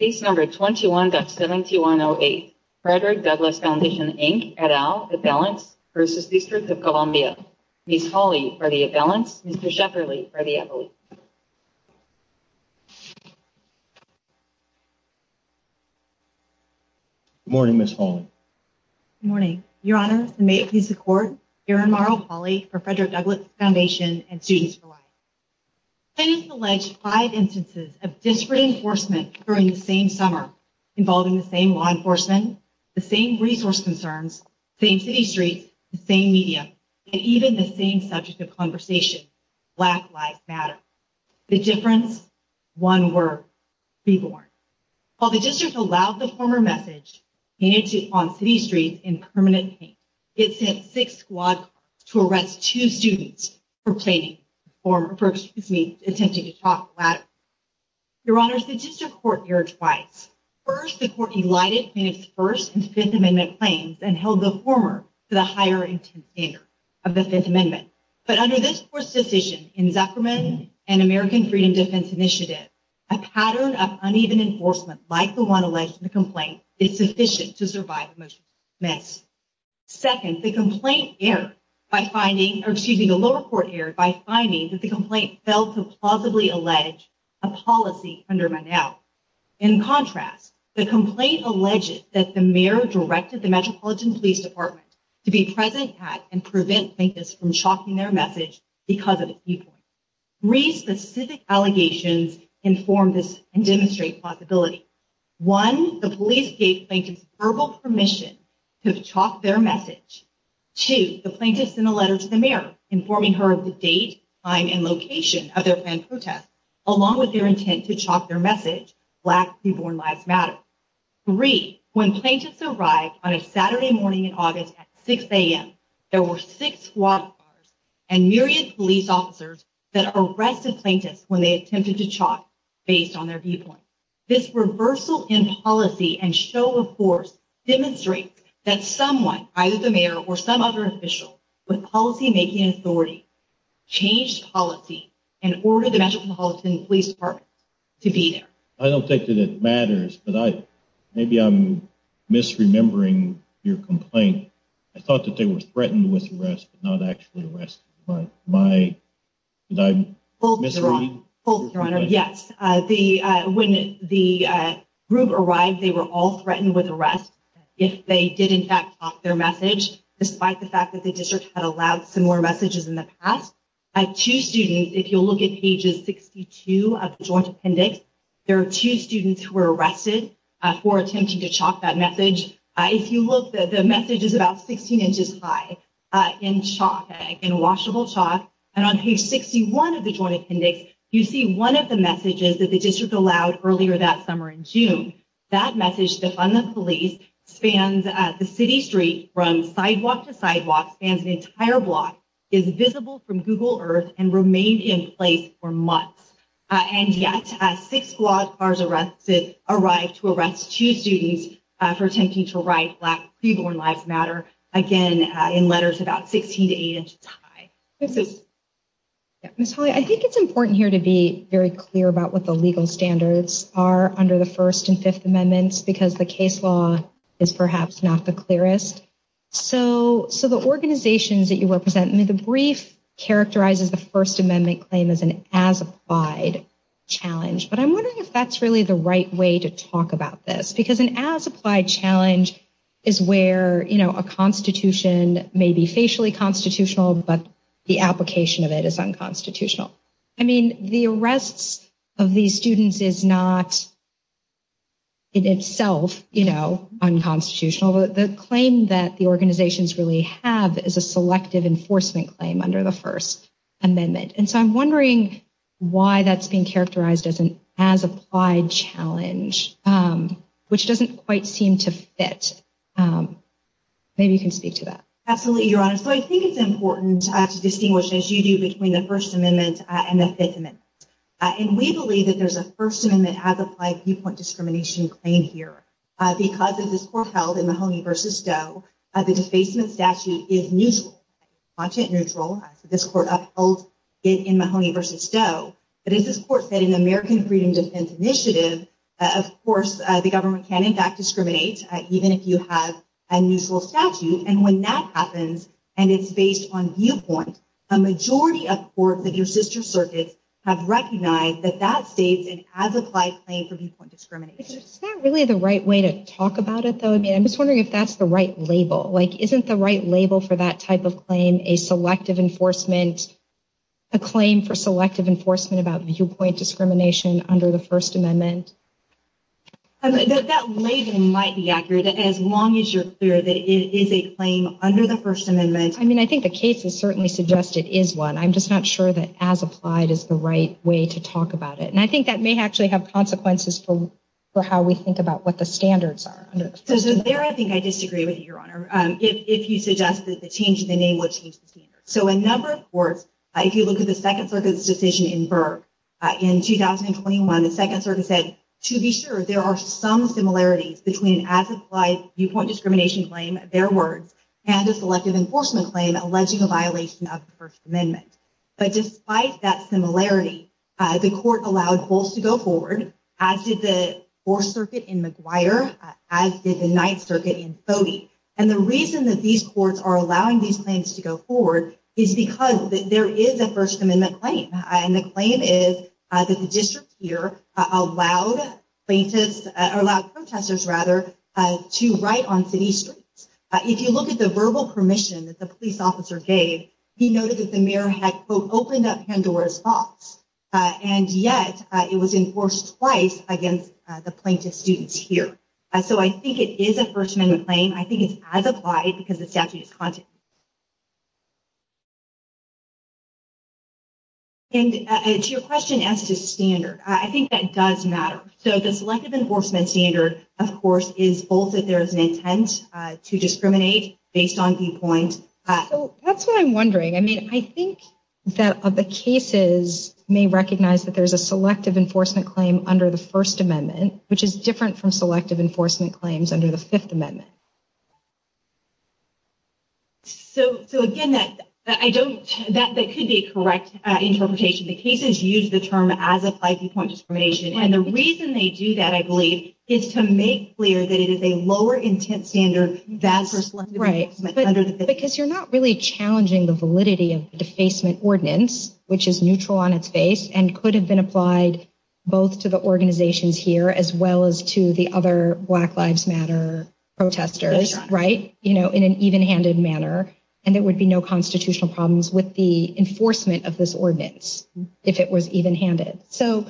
Case No. 21-7108, Frederick Douglass Foundation, Inc. et al., Avalanche v. District of Columbia. Ms. Hawley for the Avalanche, Mr. Shefferly for the Avalanche. Good morning, Ms. Hawley. Good morning, Your Honor. May it please the Court, Aaron Morrow Hawley for Frederick Douglass Foundation and Students for Life. Plaintiffs alleged five instances of disparate enforcement during the same summer involving the same law enforcement, the same resource concerns, the same city streets, the same media, and even the same subject of conversation, Black Lives Matter. The difference? One word. Reborn. While the district allowed the former message painted on city streets in permanent paint, it sent six squad cars to arrest two students for planning, for, excuse me, attempting to talk the latter. Your Honor, the district court erred twice. First, the court elided plaintiffs' First and Fifth Amendment claims and held the former to the higher intent standard of the Fifth Amendment. But under this court's decision in Zuckerman and American Freedom Defense Initiative, a pattern of uneven enforcement like the one alleged in the complaint is sufficient to survive a motion to dismiss. Second, the complaint erred by finding, or excuse me, the lower court erred by finding that the complaint failed to plausibly allege a policy under Mondale. In contrast, the complaint alleged that the mayor directed the Metropolitan Police Department to be present at and prevent plaintiffs from chalking their message because of a viewpoint. Three specific allegations inform this and demonstrate plausibility. One, the police gave plaintiffs verbal permission to chalk their message. Two, the plaintiffs sent a letter to the mayor informing her of the date, time, and location of their planned protest, along with their intent to chalk their message, Black Reborn Lives Matter. Three, when plaintiffs arrived on a Saturday morning in August at 6 a.m., there were six squad cars and myriad police officers that arrested plaintiffs when they attempted to chalk based on their viewpoint. This reversal in policy and show of force demonstrates that someone, either the mayor or some other official, with policymaking authority, changed policy and ordered the Metropolitan Police Department to be there. I don't think that it matters, but maybe I'm misremembering your complaint. I thought that they were threatened with arrest, but not actually arrested. Did I misread your complaint? Both, Your Honor. Yes. When the group arrived, they were all threatened with arrest if they did, in fact, chalk their message, despite the fact that the district had allowed similar messages in the past. Two students, if you'll look at pages 62 of the joint appendix, there are two students who were arrested for attempting to chalk that message. If you look, the message is about 16 inches high in chalk, in washable chalk. And on page 61 of the joint appendix, you see one of the messages that the district allowed earlier that summer in June. That message, Defund the Police, spans the city street from sidewalk to sidewalk, spans an entire block, is visible from Google Earth, and remained in place for months. And yet, six block cars arrived to arrest two students for attempting to write Black Pre-Born Lives Matter, again, in letters about 16 to 8 inches high. Ms. Hawley, I think it's important here to be very clear about what the legal standards are under the First and Fifth Amendments, because the case law is perhaps not the clearest. So the organizations that you represent, the brief characterizes the First Amendment claim as an as-applied challenge. But I'm wondering if that's really the right way to talk about this, because an as-applied challenge is where a constitution may be facially constitutional, but the application of it is unconstitutional. I mean, the arrests of these students is not, in itself, unconstitutional. The claim that the organizations really have is a selective enforcement claim under the First Amendment. And so I'm wondering why that's being characterized as an as-applied challenge, which doesn't quite seem to fit. Maybe you can speak to that. Absolutely, Your Honor. So I think it's important to distinguish, as you do, between the First Amendment and the Fifth Amendment. And we believe that there's a First Amendment as-applied viewpoint discrimination claim here. Because of this court held in Mahoney v. Doe, the defacement statute is neutral, content neutral. This court upheld it in Mahoney v. Doe. But as this court said in the American Freedom Defense Initiative, of course, the government can, in fact, discriminate, even if you have a neutral statute. And when that happens, and it's based on viewpoint, a majority of courts of your sister circuits have recognized that that states an as-applied claim for viewpoint discrimination. Is that really the right way to talk about it, though? I mean, I'm just wondering if that's the right label. Like, isn't the right label for that type of claim a claim for selective enforcement about viewpoint discrimination under the First Amendment? That label might be accurate, as long as you're clear that it is a claim under the First Amendment. I mean, I think the case has certainly suggested it is one. I'm just not sure that as-applied is the right way to talk about it. And I think that may actually have consequences for how we think about what the standards are under the First Amendment. So there, I think I disagree with you, Your Honor, if you suggest that the change in the name would change the standards. So a number of courts, if you look at the Second Circuit's decision in Burke in 2021, the Second Circuit said, to be sure, there are some similarities between an as-applied viewpoint discrimination claim, their words, and a selective enforcement claim alleging a violation of the First Amendment. But despite that similarity, the court allowed Hulse to go forward, as did the Fourth Circuit in McGuire, as did the Ninth Circuit in Fody. And the reason that these courts are allowing these claims to go forward is because there is a First Amendment claim. And the claim is that the district here allowed plaintiffs, or allowed protesters, rather, to write on city streets. If you look at the verbal permission that the police officer gave, he noted that the mayor had opened up Pandora's box. And yet it was enforced twice against the plaintiff's students here. So I think it is a First Amendment claim. I think it's as-applied because the statute is contentious. And to your question as to standard, I think that does matter. So the selective enforcement standard, of course, is both that there is an intent to discriminate based on viewpoint. That's what I'm wondering. I mean, I think that the cases may recognize that there is a selective enforcement claim under the First Amendment, which is different from selective enforcement claims under the Fifth Amendment. So, again, that could be a correct interpretation. The cases use the term as-applied viewpoint discrimination. And the reason they do that, I believe, is to make clear that it is a lower intent standard than for selective enforcement under the Fifth Amendment. Because you're not really challenging the validity of the defacement ordinance, which is neutral on its face, and could have been applied both to the organizations here as well as to the other Black Lives Matter protesters, right? You know, in an even-handed manner. And there would be no constitutional problems with the enforcement of this ordinance if it was even-handed. So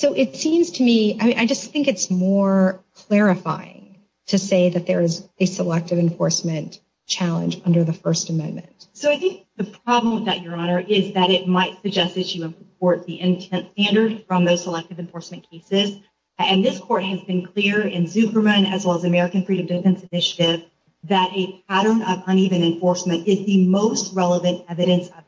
it seems to me, I just think it's more clarifying to say that there is a selective enforcement challenge under the First Amendment. So I think the problem with that, Your Honor, is that it might suggest that you import the intent standard from those selective enforcement cases. And this court has been clear in Zuckerman as well as the American Freedom of Defense Initiative that a pattern of uneven enforcement is the most relevant evidence of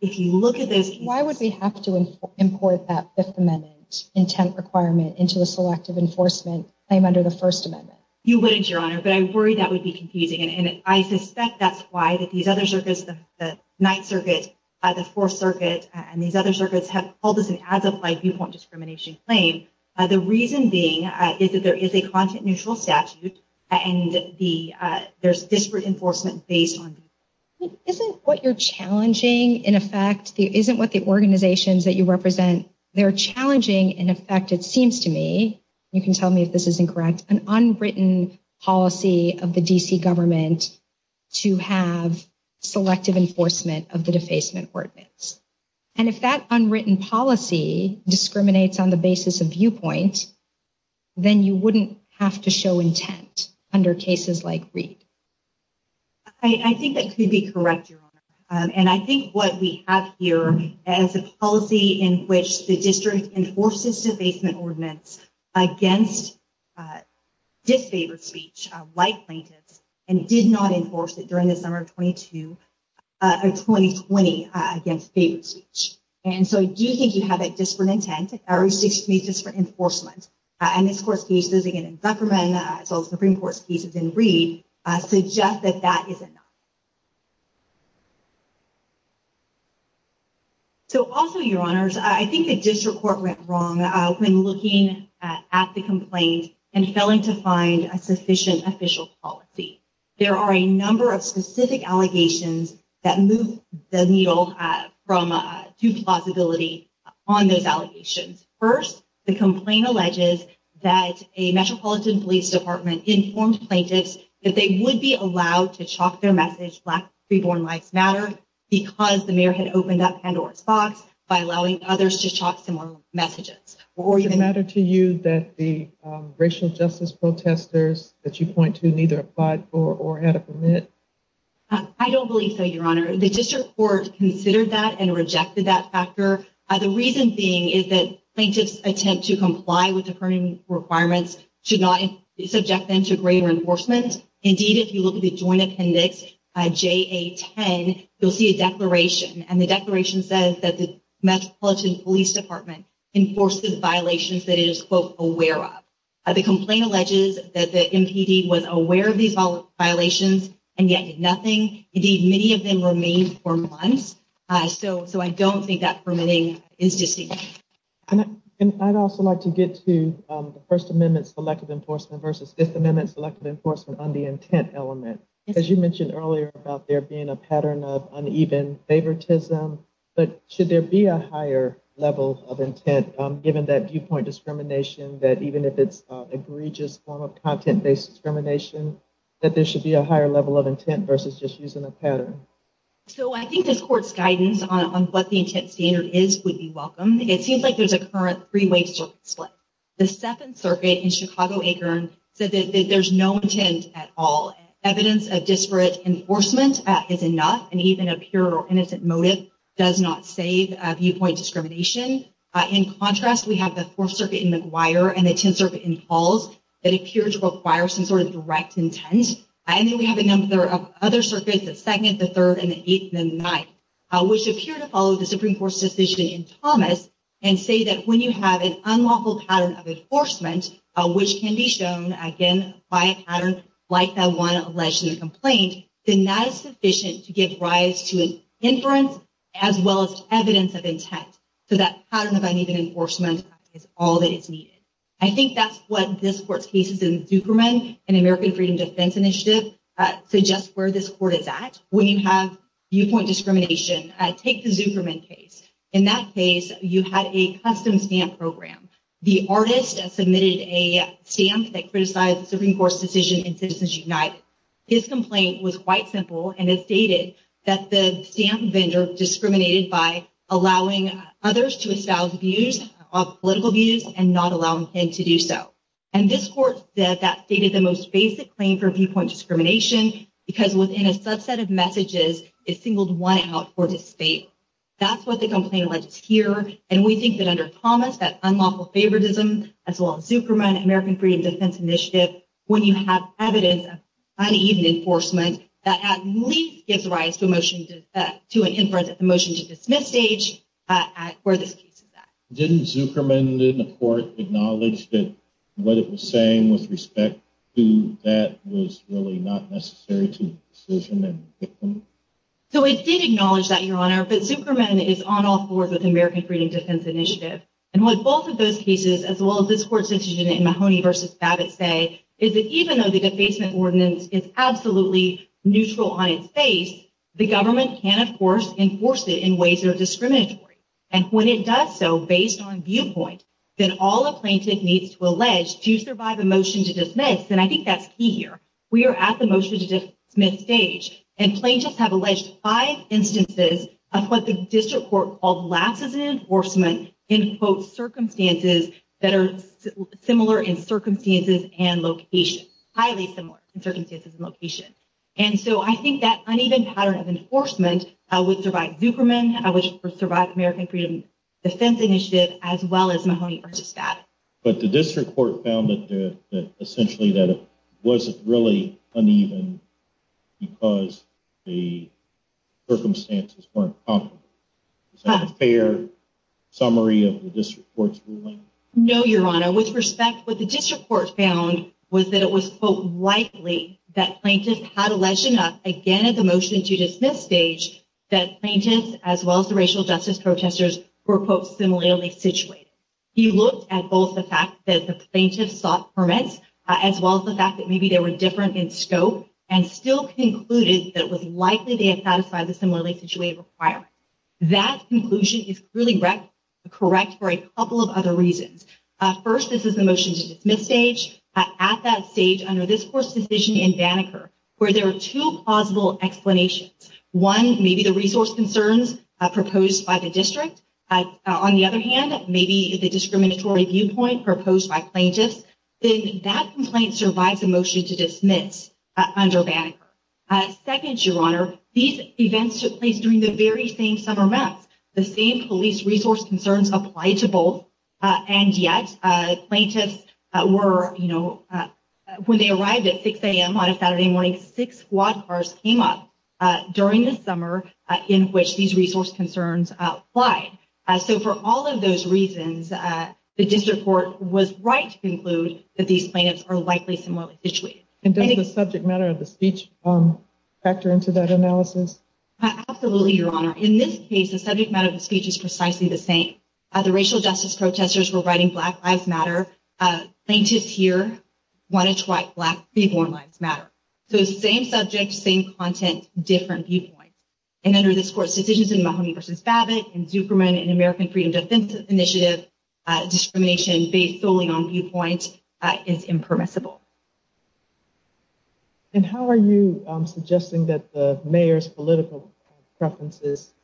intent. Why would we have to import that Fifth Amendment intent requirement into the selective enforcement claim under the First Amendment? You wouldn't, Your Honor, but I worry that would be confusing. And I suspect that's why these other circuits, the Ninth Circuit, the Fourth Circuit, and these other circuits have called this an as-applied viewpoint discrimination claim. The reason being is that there is a content-neutral statute, and there's disparate enforcement based on that. Isn't what you're challenging, in effect, isn't what the organizations that you represent, they're challenging, in effect, it seems to me, you can tell me if this is incorrect, an unwritten policy of the D.C. government to have selective enforcement of the defacement ordinance. And if that unwritten policy discriminates on the basis of viewpoint, then you wouldn't have to show intent under cases like Reed. I think that could be correct, Your Honor. And I think what we have here is a policy in which the district enforces defacement ordinance against disfavored speech, like plaintiffs, and did not enforce it during the summer of 2020 against favored speech. And so I do think you have a disparate intent, or at least disparate enforcement. And this Court's cases, again, in Zuckerman, as well as Supreme Court's cases in Reed, suggest that that is enough. So also, Your Honors, I think the district court went wrong when looking at the complaint and failing to find a sufficient official policy. There are a number of specific allegations that move the needle from due plausibility on those allegations. First, the complaint alleges that a Metropolitan Police Department informed plaintiffs that they would be allowed to chalk their message, Black Pre-Born Lives Matter, because the mayor had opened up Pandora's Box by allowing others to chalk similar messages. Does it matter to you that the racial justice protesters that you point to neither applied for or had a permit? I don't believe so, Your Honor. The district court considered that and rejected that factor. The reason being is that plaintiffs' attempt to comply with deferring requirements should not subject them to greater enforcement. Indeed, if you look at the Joint Appendix JA-10, you'll see a declaration. And the declaration says that the Metropolitan Police Department enforces violations that it is, quote, aware of. The complaint alleges that the MPD was aware of these violations and yet did nothing. Indeed, many of them remained for months. So I don't think that permitting is distinct. And I'd also like to get to the First Amendment Selective Enforcement versus Fifth Amendment Selective Enforcement on the intent element. As you mentioned earlier about there being a pattern of uneven favoritism, but should there be a higher level of intent given that viewpoint discrimination that even if it's egregious form of content-based discrimination, that there should be a higher level of intent versus just using a pattern? So I think this court's guidance on what the intent standard is would be welcome. It seems like there's a current three-way circuit split. The Seventh Circuit in Chicago-Akron said that there's no intent at all. Evidence of disparate enforcement is enough, and even a pure or innocent motive does not save viewpoint discrimination. In contrast, we have the Fourth Circuit in McGuire and the Tenth Circuit in Pauls that appear to require some sort of direct intent. And then we have a number of other circuits, the Second, the Third, and the Eighth and the Ninth, which appear to follow the Supreme Court's decision in Thomas and say that when you have an unlawful pattern of enforcement, which can be shown, again, by a pattern like the one alleged in the complaint, then that is sufficient to give rise to an inference as well as evidence of intent. So that pattern of uneven enforcement is all that is needed. I think that's what this court's cases in Zuckerman and American Freedom Defense Initiative suggest where this court is at. When you have viewpoint discrimination, take the Zuckerman case. In that case, you had a custom stamp program. The artist submitted a stamp that criticized the Supreme Court's decision in Citizens United. His complaint was quite simple, and it stated that the stamp vendor discriminated by allowing others to espouse views, political views, and not allowing him to do so. And this court said that stated the most basic claim for viewpoint discrimination because within a subset of messages, it singled one out for disdain. That's what the complaint alleges here, and we think that under Thomas, that unlawful favoritism, as well as Zuckerman and American Freedom Defense Initiative, when you have evidence of uneven enforcement, that at least gives rise to an inference at the motion-to-dismiss stage where this case is at. Didn't Zuckerman and the court acknowledge that what it was saying with respect to that was really not necessary to the decision? So it did acknowledge that, Your Honor, but Zuckerman is on all fours with American Freedom Defense Initiative. And what both of those cases, as well as this court's decision in Mahoney v. Babbitt, say is that even though the defacement ordinance is absolutely neutral on its face, the government can, of course, enforce it in ways that are discriminatory. And when it does so based on viewpoint, then all a plaintiff needs to allege to survive a motion-to-dismiss, and I think that's key here. We are at the motion-to-dismiss stage, and plaintiffs have alleged five instances of what the district court called lapses in enforcement in, quote, circumstances that are similar in circumstances and location, highly similar in circumstances and location. And so I think that uneven pattern of enforcement would survive Zuckerman, would survive American Freedom Defense Initiative, as well as Mahoney v. Babbitt. But the district court found that, essentially, that it wasn't really uneven because the circumstances weren't comparable. Is that a fair summary of the district court's ruling? No, Your Honor. With respect, what the district court found was that it was, quote, likely that plaintiffs had alleged enough, again, at the motion-to-dismiss stage, that plaintiffs, as well as the racial justice protesters, were, quote, similarly situated. He looked at both the fact that the plaintiffs sought permits, as well as the fact that maybe they were different in scope, and still concluded that it was likely they had satisfied the similarly situated requirement. That conclusion is clearly correct for a couple of other reasons. First, this is the motion-to-dismiss stage. At that stage, under this court's decision in Banneker, where there are two plausible explanations, one, maybe the resource concerns proposed by the district. On the other hand, maybe the discriminatory viewpoint proposed by plaintiffs. Then that complaint survives a motion-to-dismiss under Banneker. Second, Your Honor, these events took place during the very same summer months. The same police resource concerns applied to both. And yet, plaintiffs were, you know, when they arrived at 6 a.m. on a Saturday morning, six squad cars came up during the summer in which these resource concerns applied. So for all of those reasons, the district court was right to conclude that these plaintiffs are likely similarly situated. And does the subject matter of the speech factor into that analysis? Absolutely, Your Honor. In this case, the subject matter of the speech is precisely the same. The racial justice protesters were writing Black Lives Matter. Plaintiffs here wanted to write Black Freeborn Lives Matter. So same subject, same content, different viewpoint. And under this court's decisions in Mahoney v. Babbitt and Zuckerman and American Freedom Defense Initiative, discrimination based solely on viewpoint is impermissible. And how are you suggesting that the mayor's political preferences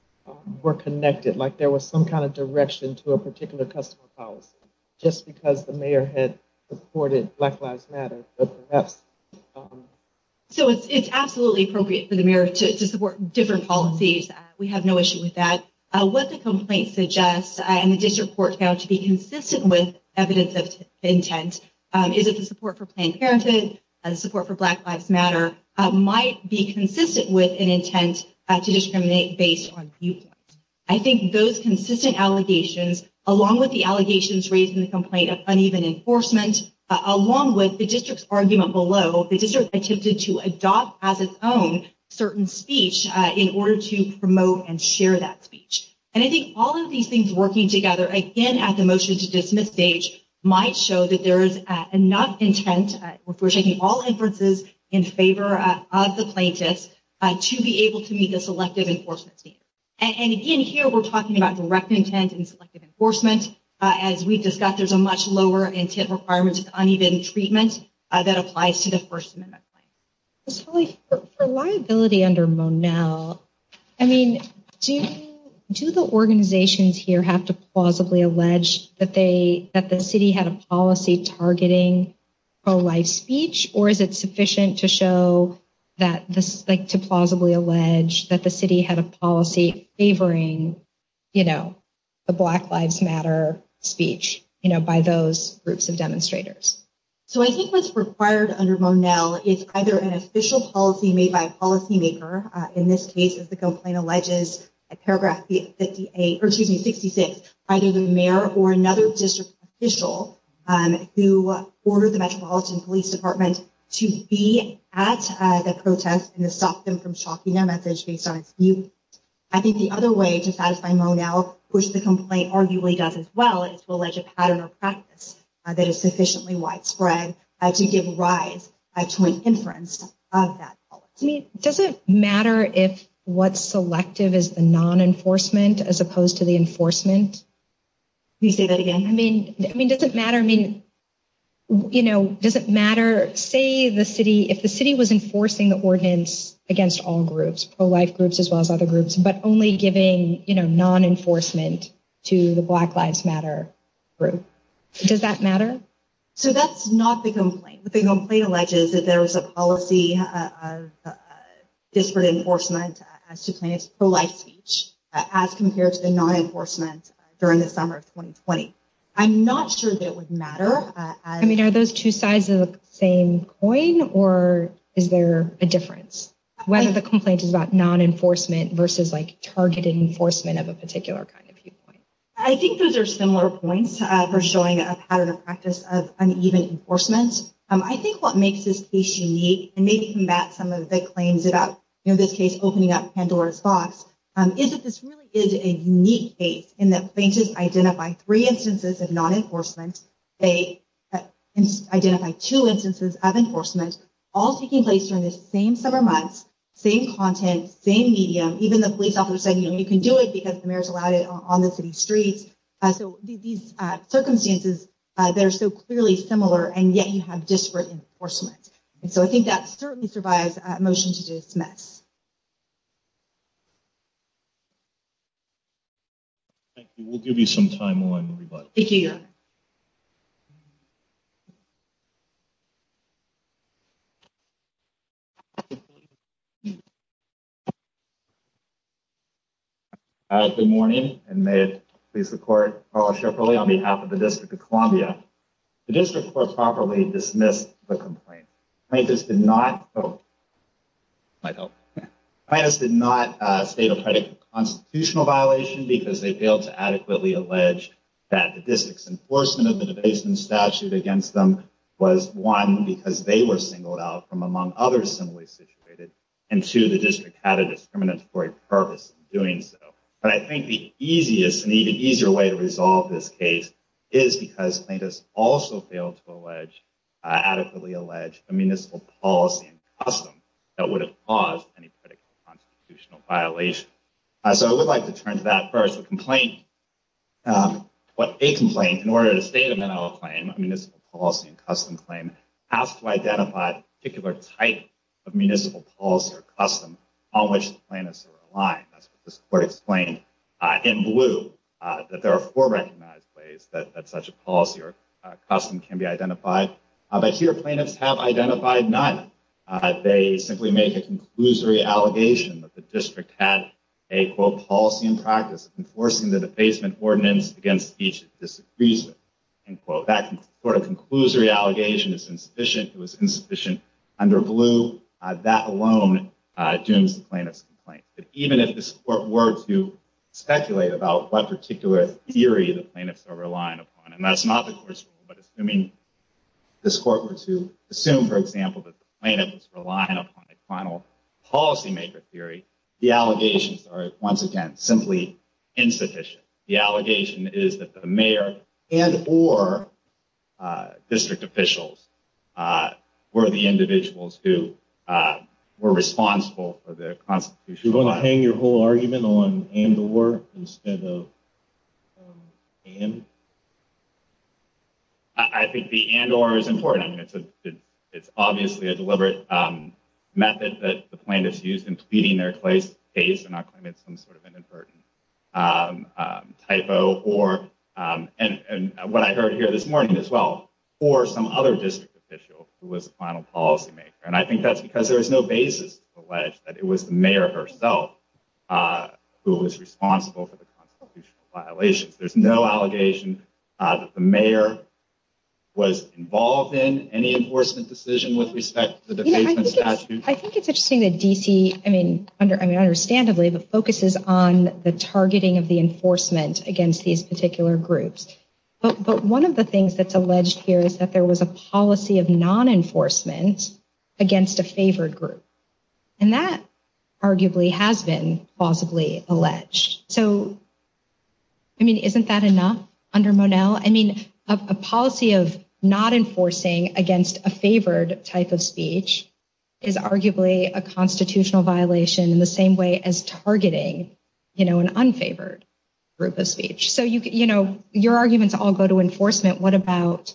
were connected, like there was some kind of direction to a particular customer policy, just because the mayor had supported Black Lives Matter? So it's absolutely appropriate for the mayor to support different policies. We have no issue with that. What the complaint suggests, and the district court found to be consistent with evidence of intent, is that the support for Planned Parenthood and the support for Black Lives Matter might be consistent with an intent to discriminate based on viewpoint. I think those consistent allegations, along with the allegations raised in the complaint of uneven enforcement, along with the district's argument below, the district attempted to adopt as its own certain speech in order to promote and share that speech. And I think all of these things working together, again, at the motion to dismiss stage, might show that there is enough intent, if we're taking all inferences in favor of the plaintiffs, to be able to meet the selective enforcement standard. And again, here we're talking about direct intent and selective enforcement. As we discussed, there's a much lower intent requirement with uneven treatment that applies to the First Amendment claim. For liability under Monell, I mean, do the organizations here have to plausibly allege that the city had a policy targeting pro-life speech? Or is it sufficient to show that this, like, to plausibly allege that the city had a policy favoring, you know, the Black Lives Matter speech, you know, by those groups of demonstrators? So I think what's required under Monell is either an official policy made by a policymaker. In this case, the complaint alleges at paragraph 58, or excuse me, 66, either the mayor or another district official who ordered the Metropolitan Police Department to be at the protest and to stop them from shocking their message based on its view. I think the other way to satisfy Monell, which the complaint arguably does as well, is to allege a pattern or practice that is sufficiently widespread to give rise to an inference of that policy. I mean, does it matter if what's selective is the non-enforcement as opposed to the enforcement? Can you say that again? I mean, does it matter, I mean, you know, does it matter, say the city, if the city was enforcing the ordinance against all groups, pro-life groups as well as other groups, but only giving, you know, non-enforcement to the Black Lives Matter group, does that matter? So that's not the complaint. The complaint alleges that there was a policy of disparate enforcement as to plaintiffs' pro-life speech as compared to the non-enforcement during the summer of 2020. I'm not sure that it would matter. I mean, are those two sides of the same coin, or is there a difference? Whether the complaint is about non-enforcement versus like targeted enforcement of a particular kind of viewpoint. I think those are similar points for showing a pattern of practice of uneven enforcement. I think what makes this case unique, and maybe combat some of the claims about, you know, this case opening up Pandora's box, is that this really is a unique case in that plaintiffs identify three instances of non-enforcement. They identify two instances of enforcement, all taking place during the same summer months, same content, same medium. Even the police officer said, you know, you can do it because the mayor's allowed it on the city streets. So these circumstances, they're so clearly similar, and yet you have disparate enforcement. And so I think that certainly survives a motion to dismiss. Thank you. We'll give you some time on the rebuttal. Thank you, Your Honor. Good morning, and may it please the court. I'm Paul Shefferly on behalf of the District of Columbia. The District Court properly dismissed the complaint. Plaintiffs did not vote. Might help. Plaintiffs did not state or predict a constitutional violation because they failed to adequately allege that the district's enforcement of the debasement statute against them was, one, because they were singled out from among others similarly situated, and two, the district had a discriminatory purpose in doing so. But I think the easiest and even easier way to resolve this case is because plaintiffs also failed to allege, adequately allege, a municipal policy and custom that would have caused any predicted constitutional violation. So I would like to turn to that first. A complaint, in order to state a mental health claim, a municipal policy and custom claim, has to identify a particular type of municipal policy or custom on which the plaintiffs are relying. That's what this court explained in blue, that there are four recognized ways that such a policy or custom can be identified. But here, plaintiffs have identified none. They simply make a conclusory allegation that the district had a, quote, policy and practice enforcing the debasement ordinance against each disagrees with, end quote. That sort of conclusory allegation is insufficient. It was insufficient under blue. That alone dooms the plaintiff's complaint. Even if this court were to speculate about what particular theory the plaintiffs are relying upon, and that's not the court's rule, but assuming this court were to assume, for example, that the plaintiff is relying upon a final policymaker theory, the allegations are, once again, simply insufficient. The allegation is that the mayor and or district officials were the individuals who were responsible for the constitution. Do you want to hang your whole argument on and or instead of and? I think the and or is important. It's obviously a deliberate method that the plaintiffs use in pleading their case and not claiming some sort of inadvertent typo or. And what I heard here this morning as well, or some other district official who was a final policymaker. And I think that's because there is no basis to allege that it was the mayor herself who was responsible for the violations. There's no allegation that the mayor was involved in any enforcement decision with respect to the statute. I think it's interesting that D.C. I mean, under I mean, understandably, the focus is on the targeting of the enforcement against these particular groups. But one of the things that's alleged here is that there was a policy of non enforcement against a favored group. And that arguably has been plausibly alleged. So. I mean, isn't that enough under Monell? I mean, a policy of not enforcing against a favored type of speech is arguably a constitutional violation in the same way as targeting an unfavored group of speech. So, you know, your arguments all go to enforcement. What about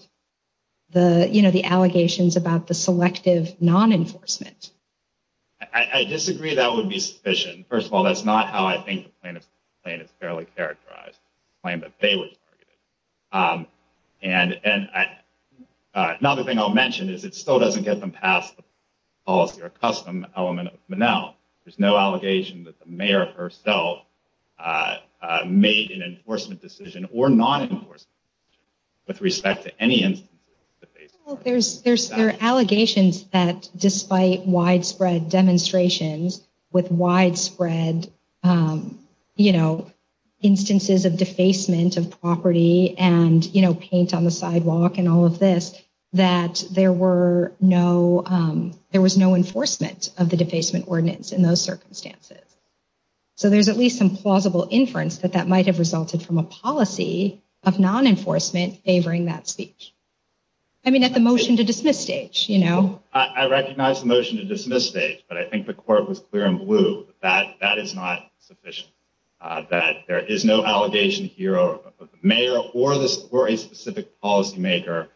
the you know, the allegations about the selective non enforcement? I disagree. That would be sufficient. First of all, that's not how I think the plaintiff's claim is fairly characterized, the claim that they were targeted. And another thing I'll mention is it still doesn't get them past the policy or custom element of Monell. There's no allegation that the mayor herself made an enforcement decision or non enforcement with respect to any instances. There's there's there are allegations that despite widespread demonstrations with widespread, you know, instances of defacement of property and, you know, paint on the sidewalk and all of this, that there were no there was no enforcement of the defacement ordinance in those circumstances. So there's at least some plausible inference that that might have resulted from a policy of non enforcement favoring that speech. I mean, at the motion to dismiss stage, you know, I recognize the motion to dismiss stage, but I think the court was clear and blue that that is not sufficient, that there is no allegation here of the mayor or this or a specific policymaker.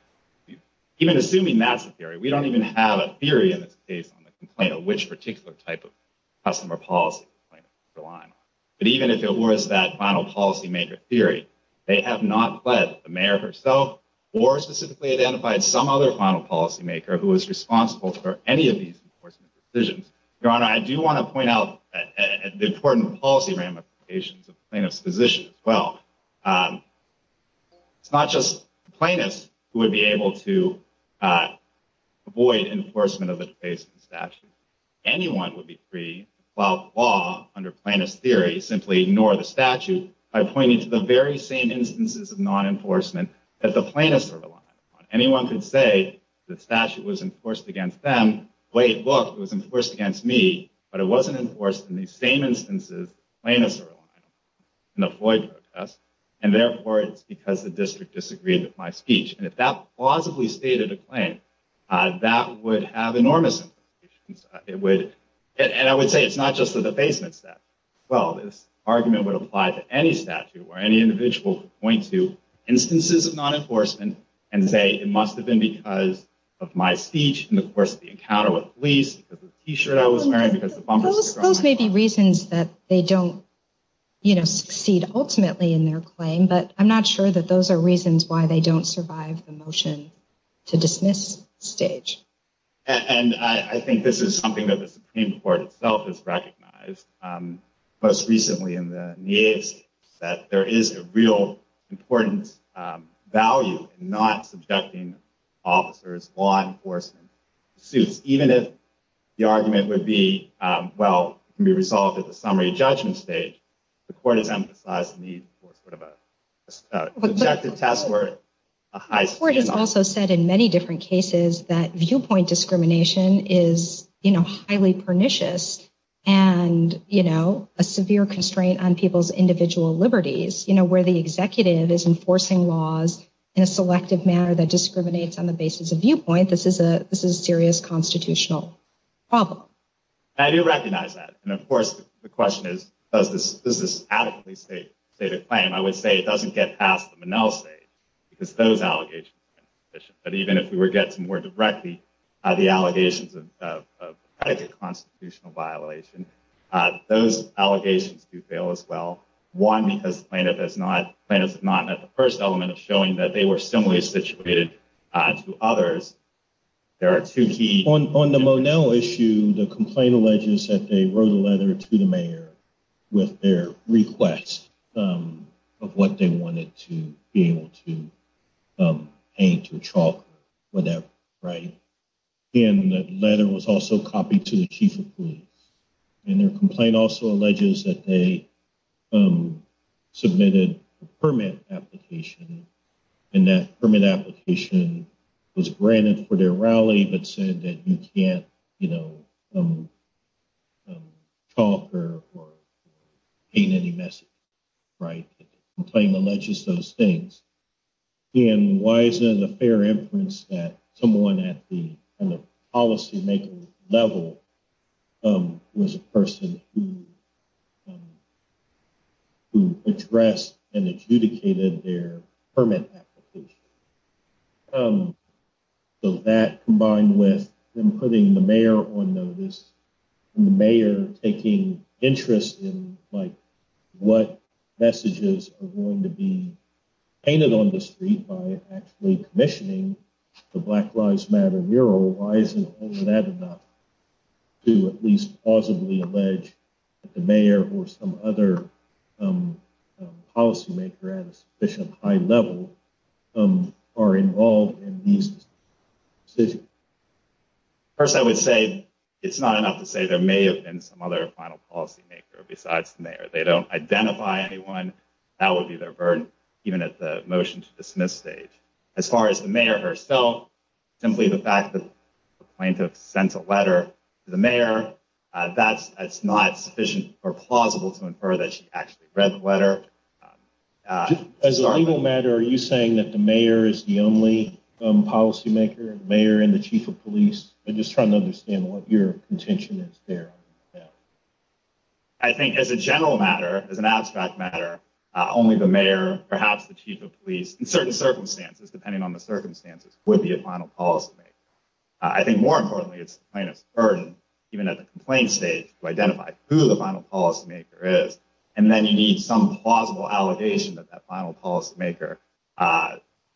Even assuming that's the theory, we don't even have a theory in this case on the complaint of which particular type of customer policy the line. But even if it was that final policymaker theory, they have not led the mayor herself or specifically identified some other final policymaker who is responsible for any of these decisions. Your Honor, I do want to point out the important policy ramifications of plaintiff's position as well. It's not just plaintiffs who would be able to avoid enforcement of the defacement statute. Anyone would be free. Well, under plaintiff's theory, simply ignore the statute by pointing to the very same instances of non enforcement that the plaintiffs are relying on. Anyone could say the statute was enforced against them. Wait, look, it was enforced against me, but it wasn't enforced in these same instances. And therefore, it's because the district disagreed with my speech. And if that plausibly stated a claim, that would have enormous implications. It would. And I would say it's not just the defacement statute. Well, this argument would apply to any statute where any individual point to instances of non enforcement and say it must have been because of my speech in the course of the encounter with police. Those may be reasons that they don't, you know, succeed ultimately in their claim. But I'm not sure that those are reasons why they don't survive the motion to dismiss stage. And I think this is something that the Supreme Court itself has recognized. Most recently in the needs that there is a real important value in not subjecting officers, law enforcement suits, even if the argument would be, well, can be resolved at the summary judgment stage. The court has emphasized the need for sort of a subjective test. The court has also said in many different cases that viewpoint discrimination is, you know, highly pernicious and, you know, a severe constraint on people's individual liberties. You know, where the executive is enforcing laws in a selective manner that discriminates on the basis of viewpoint. This is a this is a serious constitutional problem. I do recognize that. And of course, the question is, does this adequately state the claim? I would say it doesn't get past the Monell stage because those allegations. But even if we were to get some more directly, the allegations of a constitutional violation, those allegations do fail as well. One, because plaintiff is not plaintiff, not at the first element of showing that they were similarly situated to others. There are two key on the Monell issue. The complaint alleges that they wrote a letter to the mayor with their request of what they wanted to be able to paint or chalk, whatever. Right. And the letter was also copied to the chief of police. And their complaint also alleges that they submitted a permit application and that permit application was granted for their rally, but said that you can't, you know. Talk or paint any message. Right. The complaint alleges those things. And why is it a fair inference that someone at the policy level was a person who addressed and adjudicated their permit application? So that combined with them putting the mayor on notice, the mayor taking interest in what messages are going to be painted on the street by actually commissioning the Black Lives Matter mural. Why isn't that enough to at least possibly allege that the mayor or some other policymaker at a sufficient high level are involved in these decisions? First, I would say it's not enough to say there may have been some other final policymaker besides the mayor. They don't identify anyone. That would be their burden, even at the motion to dismiss stage. As far as the mayor herself, simply the fact that the plaintiff sent a letter to the mayor, that's not sufficient or plausible to infer that she actually read the letter. As a matter, are you saying that the mayor is the only policymaker mayor and the chief of police? I'm just trying to understand what your intention is there. I think as a general matter, as an abstract matter, only the mayor, perhaps the chief of police, in certain circumstances, depending on the circumstances, would be a final policymaker. I think more importantly, it's the plaintiff's burden, even at the complaint stage, to identify who the final policymaker is. Then you need some plausible allegation that that final policymaker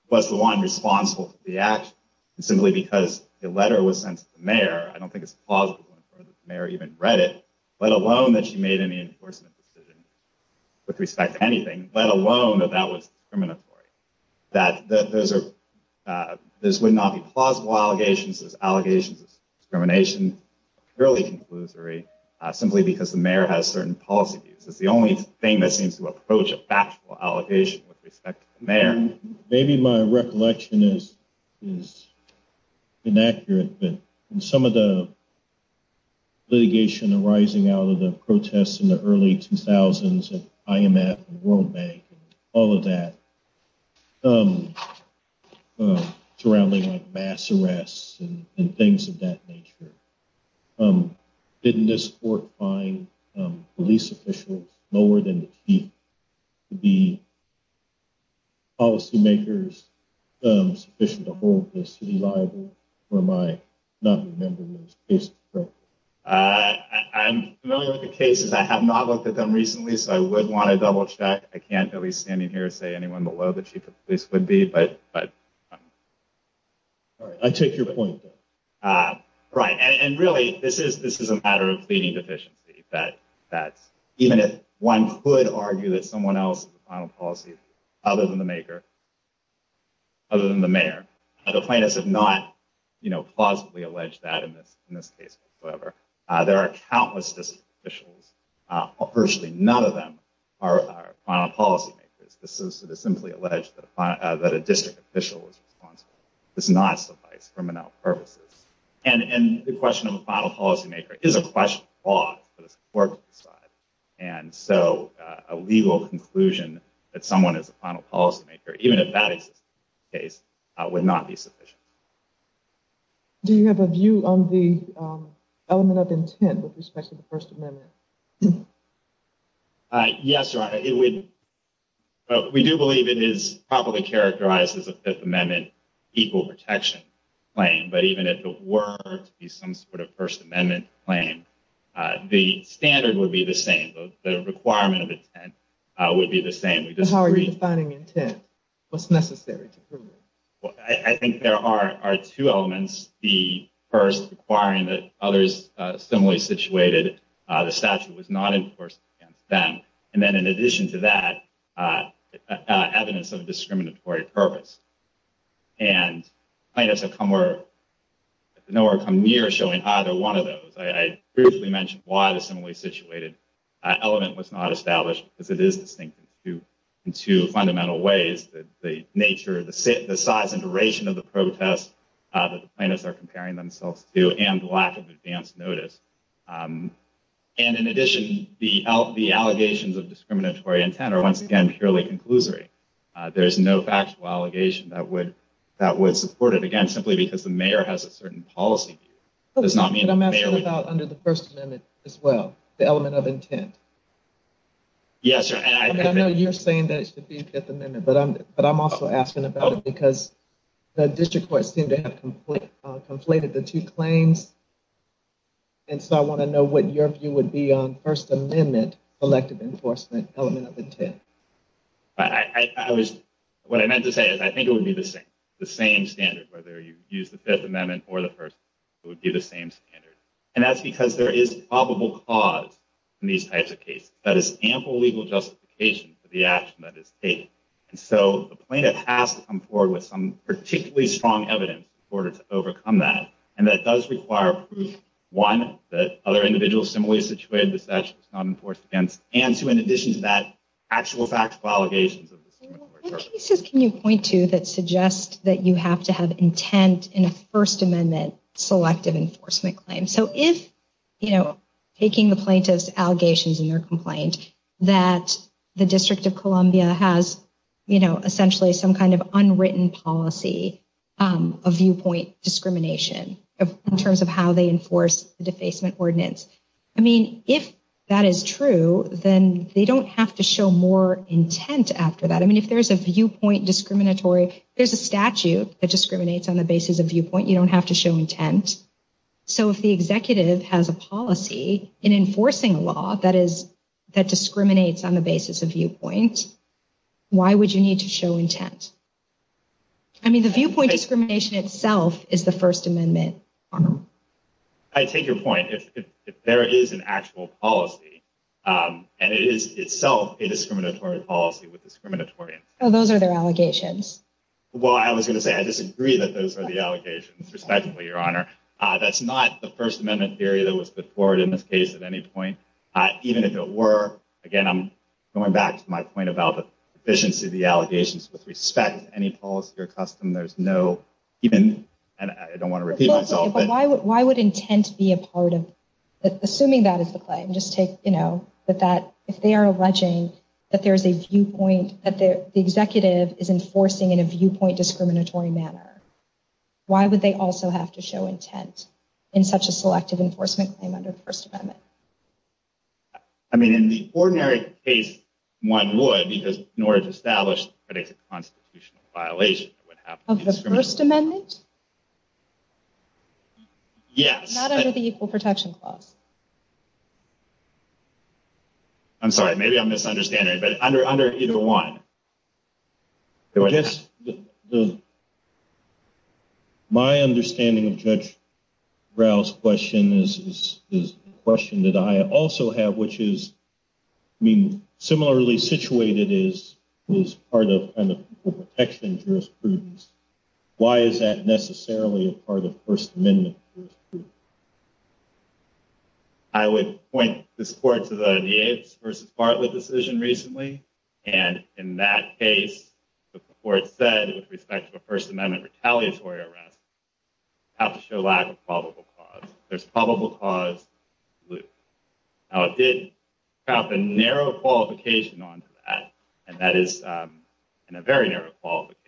was the one responsible for the action, simply because the letter was sent to the mayor. I don't think it's plausible to infer that the mayor even read it, let alone that she made any enforcement decision with respect to anything, let alone that that was discriminatory. That this would not be plausible allegations. There's allegations of discrimination, purely conclusory, simply because the mayor has certain policy views. It's the only thing that seems to approach a factual allegation with respect to the mayor. Maybe my recollection is inaccurate, but in some of the litigation arising out of the protests in the early 2000s at IMF and World Bank and all of that, surrounding mass arrests and things of that nature, didn't this court find police officials lower than the chief to be policymakers sufficient to hold the city liable, or am I not remembering those cases correctly? I'm familiar with the cases. I have not looked at them recently, so I would want to double check. I can't really stand in here and say anyone below the chief of police would be, but... I take your point. Right, and really, this is a matter of pleading deficiency. Even if one could argue that someone else is the final policymaker other than the mayor, the plaintiffs have not plausibly alleged that in this case whatsoever. There are countless district officials. Virtually none of them are final policymakers. It is simply alleged that a district official is responsible. It does not suffice for menial purposes. And the question of a final policymaker is a question of law for the court to decide. And so a legal conclusion that someone is a final policymaker, even if that exists in this case, would not be sufficient. Do you have a view on the element of intent with respect to the First Amendment? Yes, Your Honor. We do believe it is properly characterized as a Fifth Amendment equal protection claim. But even if it were to be some sort of First Amendment claim, the standard would be the same. The requirement of intent would be the same. How are you defining intent? What's necessary to prove it? I think there are two elements. The first requiring that others similarly situated, the statute was not enforced against them. And then in addition to that, evidence of discriminatory purpose. And plaintiffs have nowhere come near showing either one of those. I briefly mentioned why the similarly situated element was not established, because it is distinct in two fundamental ways. The nature, the size and duration of the protest that the plaintiffs are comparing themselves to, and the lack of advance notice. And in addition, the allegations of discriminatory intent are once again purely conclusory. There is no factual allegation that would support it. I'm asking about under the First Amendment as well, the element of intent. Yes, sir. I know you're saying that it should be Fifth Amendment, but I'm also asking about it because the district courts seem to have conflated the two claims. And so I want to know what your view would be on First Amendment elective enforcement element of intent. What I meant to say is I think it would be the same standard, whether you use the Fifth Amendment or the First Amendment, it would be the same standard. And that's because there is probable cause in these types of cases. That is ample legal justification for the action that is taken. And so the plaintiff has to come forward with some particularly strong evidence in order to overcome that. And that does require proof, one, that other individuals similarly situated, the statute was not enforced against. And two, in addition to that, actual factual allegations of discriminatory intent. What cases can you point to that suggest that you have to have intent in a First Amendment selective enforcement claim? So if, you know, taking the plaintiff's allegations in their complaint that the District of Columbia has, you know, essentially some kind of unwritten policy of viewpoint discrimination in terms of how they enforce the defacement ordinance. I mean, if that is true, then they don't have to show more intent after that. I mean, if there's a viewpoint discriminatory, there's a statute that discriminates on the basis of viewpoint. You don't have to show intent. So if the executive has a policy in enforcing a law that is that discriminates on the basis of viewpoint, why would you need to show intent? I mean, the viewpoint discrimination itself is the First Amendment. I take your point. If there is an actual policy and it is itself a discriminatory policy with discriminatory intent. Oh, those are their allegations. Well, I was going to say, I disagree that those are the allegations, respectfully, Your Honor. That's not the First Amendment theory that was put forward in this case at any point, even if it were. Again, I'm going back to my point about the efficiency of the allegations with respect to any policy or custom. There's no even I don't want to repeat myself. But why would why would intent be a part of assuming that is the claim? Just take, you know, that that if they are alleging that there is a viewpoint that the executive is enforcing in a viewpoint discriminatory manner. Why would they also have to show intent in such a selective enforcement claim under the First Amendment? I mean, in the ordinary case, one would because in order to establish a constitutional violation of the First Amendment. Yes, not under the Equal Protection Clause. I'm sorry, maybe I'm misunderstanding, but under under either one. Yes, the. My understanding of Judge Rao's question is this question that I also have, which is, I mean, similarly situated is is part of the protection jurisprudence. Why is that necessarily a part of First Amendment? I would point this court to the Yates versus Bartlett decision recently, and in that case, the court said with respect to a First Amendment retaliatory arrest. How to show lack of probable cause, there's probable cause loop. Now, it did have a narrow qualification on that, and that is in a very narrow qualification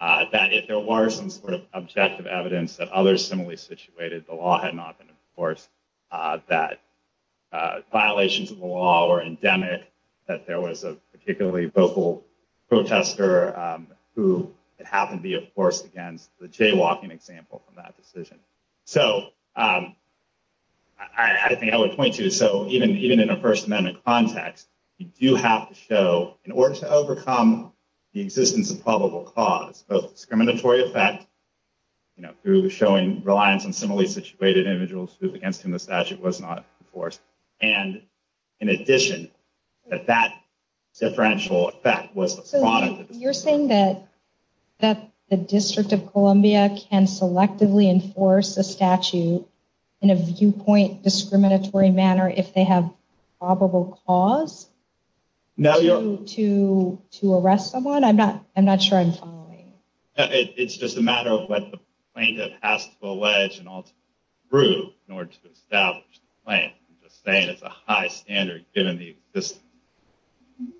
that if there were some sort of objective evidence that others similarly support. It's situated. The law had not been enforced that violations of the law or endemic that there was a particularly vocal protester who it happened to be a force against the jaywalking example from that decision. So I think I would point to so even even in a First Amendment context, you have to show in order to overcome the existence of probable cause of discriminatory effect. You know, through showing reliance on similarly situated individuals against whom the statute was not enforced. And in addition, that that differential effect was the product. You're saying that that the District of Columbia can selectively enforce a statute in a viewpoint, discriminatory manner if they have probable cause. Now you're to to arrest someone. I'm not I'm not sure I'm following. It's just a matter of what the plaintiff has to allege and also prove in order to establish the plan. I'm just saying it's a high standard given the system.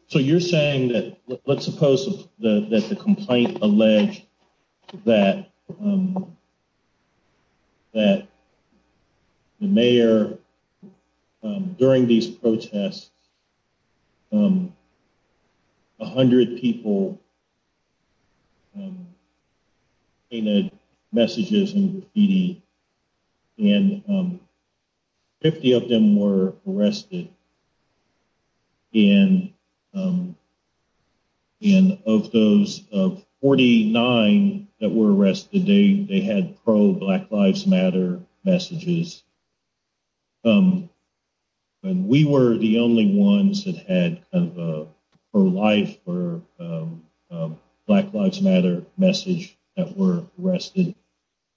So you're saying that let's suppose that the complaint alleged that. That. The mayor during these protests. A hundred people. You know, messages and graffiti. And. 50 of them were arrested. And. And of those of 49 that were arrested, they they had pro Black Lives Matter messages. And we were the only ones that had her life or Black Lives Matter message that were arrested.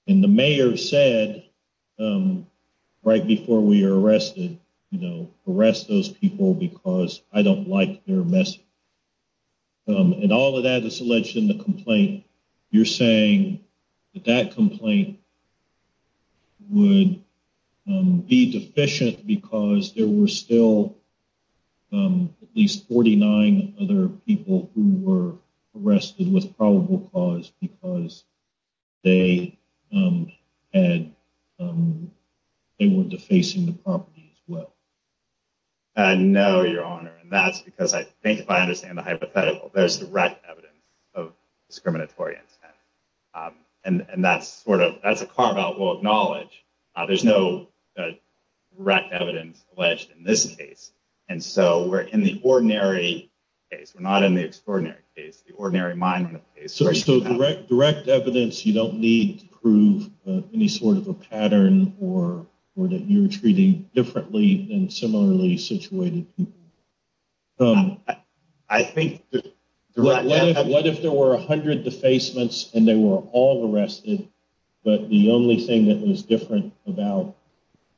And the mayor said right before we are arrested, you know, arrest those people because I don't like their message. And all of that is alleged in the complaint. You're saying that that complaint. Would be deficient because there were still at least 49 other people who were arrested with probable cause because they had. They were defacing the property as well. No, Your Honor. And that's because I think if I understand the hypothetical, there's direct evidence of discriminatory intent. And that's sort of that's a carve out. We'll acknowledge there's no direct evidence alleged in this case. And so we're in the ordinary case. We're not in the extraordinary case. The ordinary mind. Direct evidence. You don't need to prove any sort of a pattern or or that you're treating differently and similarly situated. I think. What if there were 100 defacements and they were all arrested? But the only thing that was different about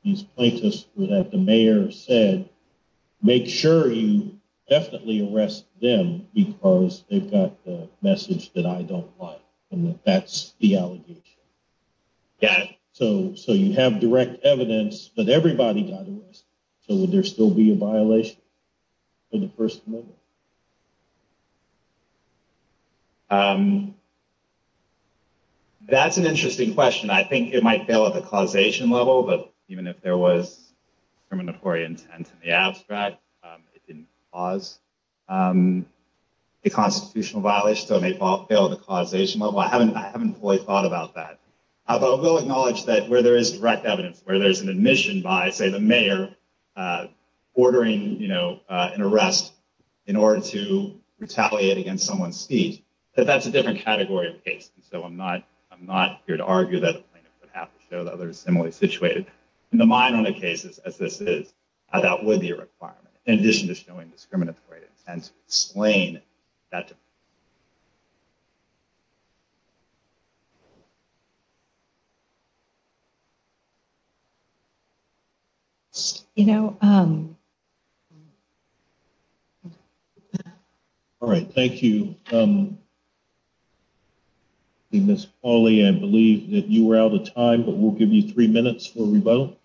these plaintiffs were that the mayor said, make sure you definitely arrest them because they've got the message that I don't want. And that's the allegation. Yeah. So so you have direct evidence, but everybody got arrested. So would there still be a violation? For the first? No. That's an interesting question. I think it might fail at the causation level, but even if there was discriminatory intent in the abstract, it didn't cause a constitutional violation. So it may fail at the causation level. I haven't I haven't fully thought about that. But I will acknowledge that where there is direct evidence, where there's an admission by, say, the mayor ordering an arrest in order to retaliate against someone's speech, that that's a different category of case. And so I'm not I'm not here to argue that the plaintiff would have to show that they're similarly situated in the minor cases as this is. That would be a requirement in addition to showing discriminatory and slaying that. You know. All right, thank you. Miss Polly, I believe that you were out of time, but we'll give you three minutes for rebuttal.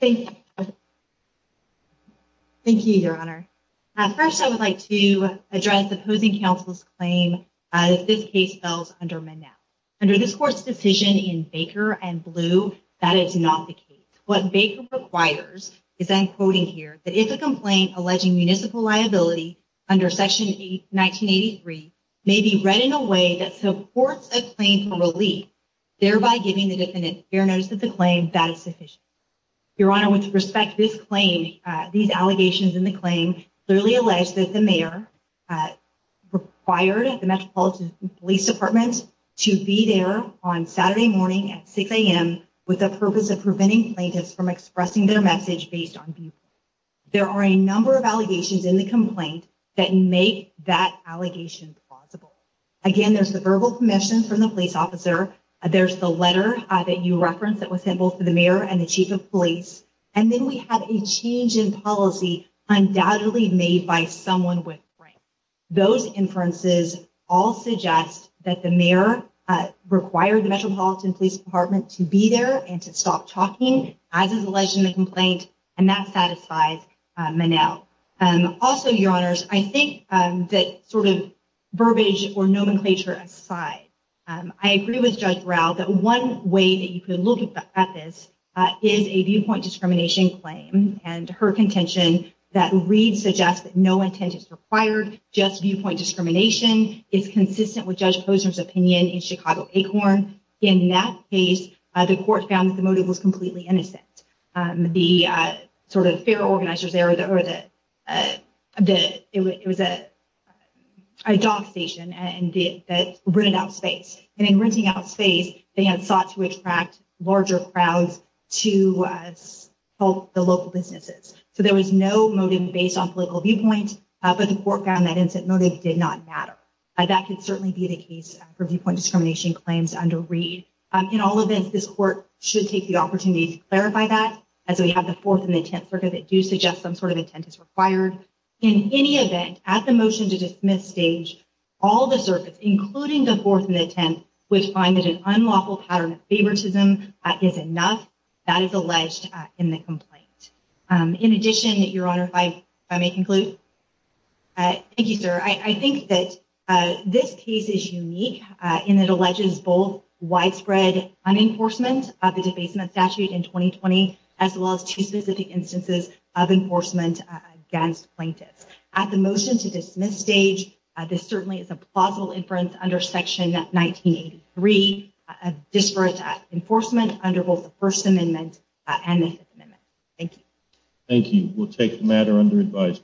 Thank you. Thank you, Your Honor. First, I would like to address the opposing counsel's claim. This case fell under my now under this court's decision in Baker and blue. That is not the case. What Baker requires is that I'm quoting here that if a complaint alleging municipal liability under Section eight, 1983, maybe read in a way that supports a claim for relief, thereby giving the defendant fair notice that the claim that is sufficient. Your Honor, with respect, this claim, these allegations in the claim clearly alleged that the mayor required the Metropolitan Police Department to be there on Saturday morning at six a.m. with the purpose of preventing plaintiffs from expressing their message based on. There are a number of allegations in the complaint that make that allegation possible. Again, there's the verbal commission from the police officer. There's the letter that you reference that was simple for the mayor and the chief of police. And then we have a change in policy undoubtedly made by someone with those inferences all suggest that the mayor required the Metropolitan Police Department to be there and to stop talking as alleged in the complaint. And that satisfies Manel. Also, Your Honors, I think that sort of verbiage or nomenclature aside, I agree with Judge Rao that one way that you can look at this is a viewpoint discrimination claim. And her contention that read suggests that no intent is required. Just viewpoint discrimination is consistent with Judge Posner's opinion in Chicago Acorn. In that case, the court found that the motive was completely innocent. The sort of fair organizers there, it was a dog station and that rented out space. And in renting out space, they had sought to attract larger crowds to help the local businesses. So there was no motive based on political viewpoint. But the court found that innocent motive did not matter. That could certainly be the case for viewpoint discrimination claims under read. In all events, this court should take the opportunity to clarify that. As we have the fourth and the tenth circuit that do suggest some sort of intent is required. In any event, at the motion to dismiss stage, all the circuits, including the fourth and the tenth, which find that an unlawful pattern of favoritism is enough. That is alleged in the complaint. In addition, Your Honor, if I may conclude. Thank you, sir. I think that this case is unique in that it alleges both widespread unenforcement of the debasement statute in 2020, as well as two specific instances of enforcement against plaintiffs. At the motion to dismiss stage, this certainly is a plausible inference under Section 1983 of disparate enforcement under both the First Amendment and the Fifth Amendment. Thank you. Thank you. We'll take the matter under advice.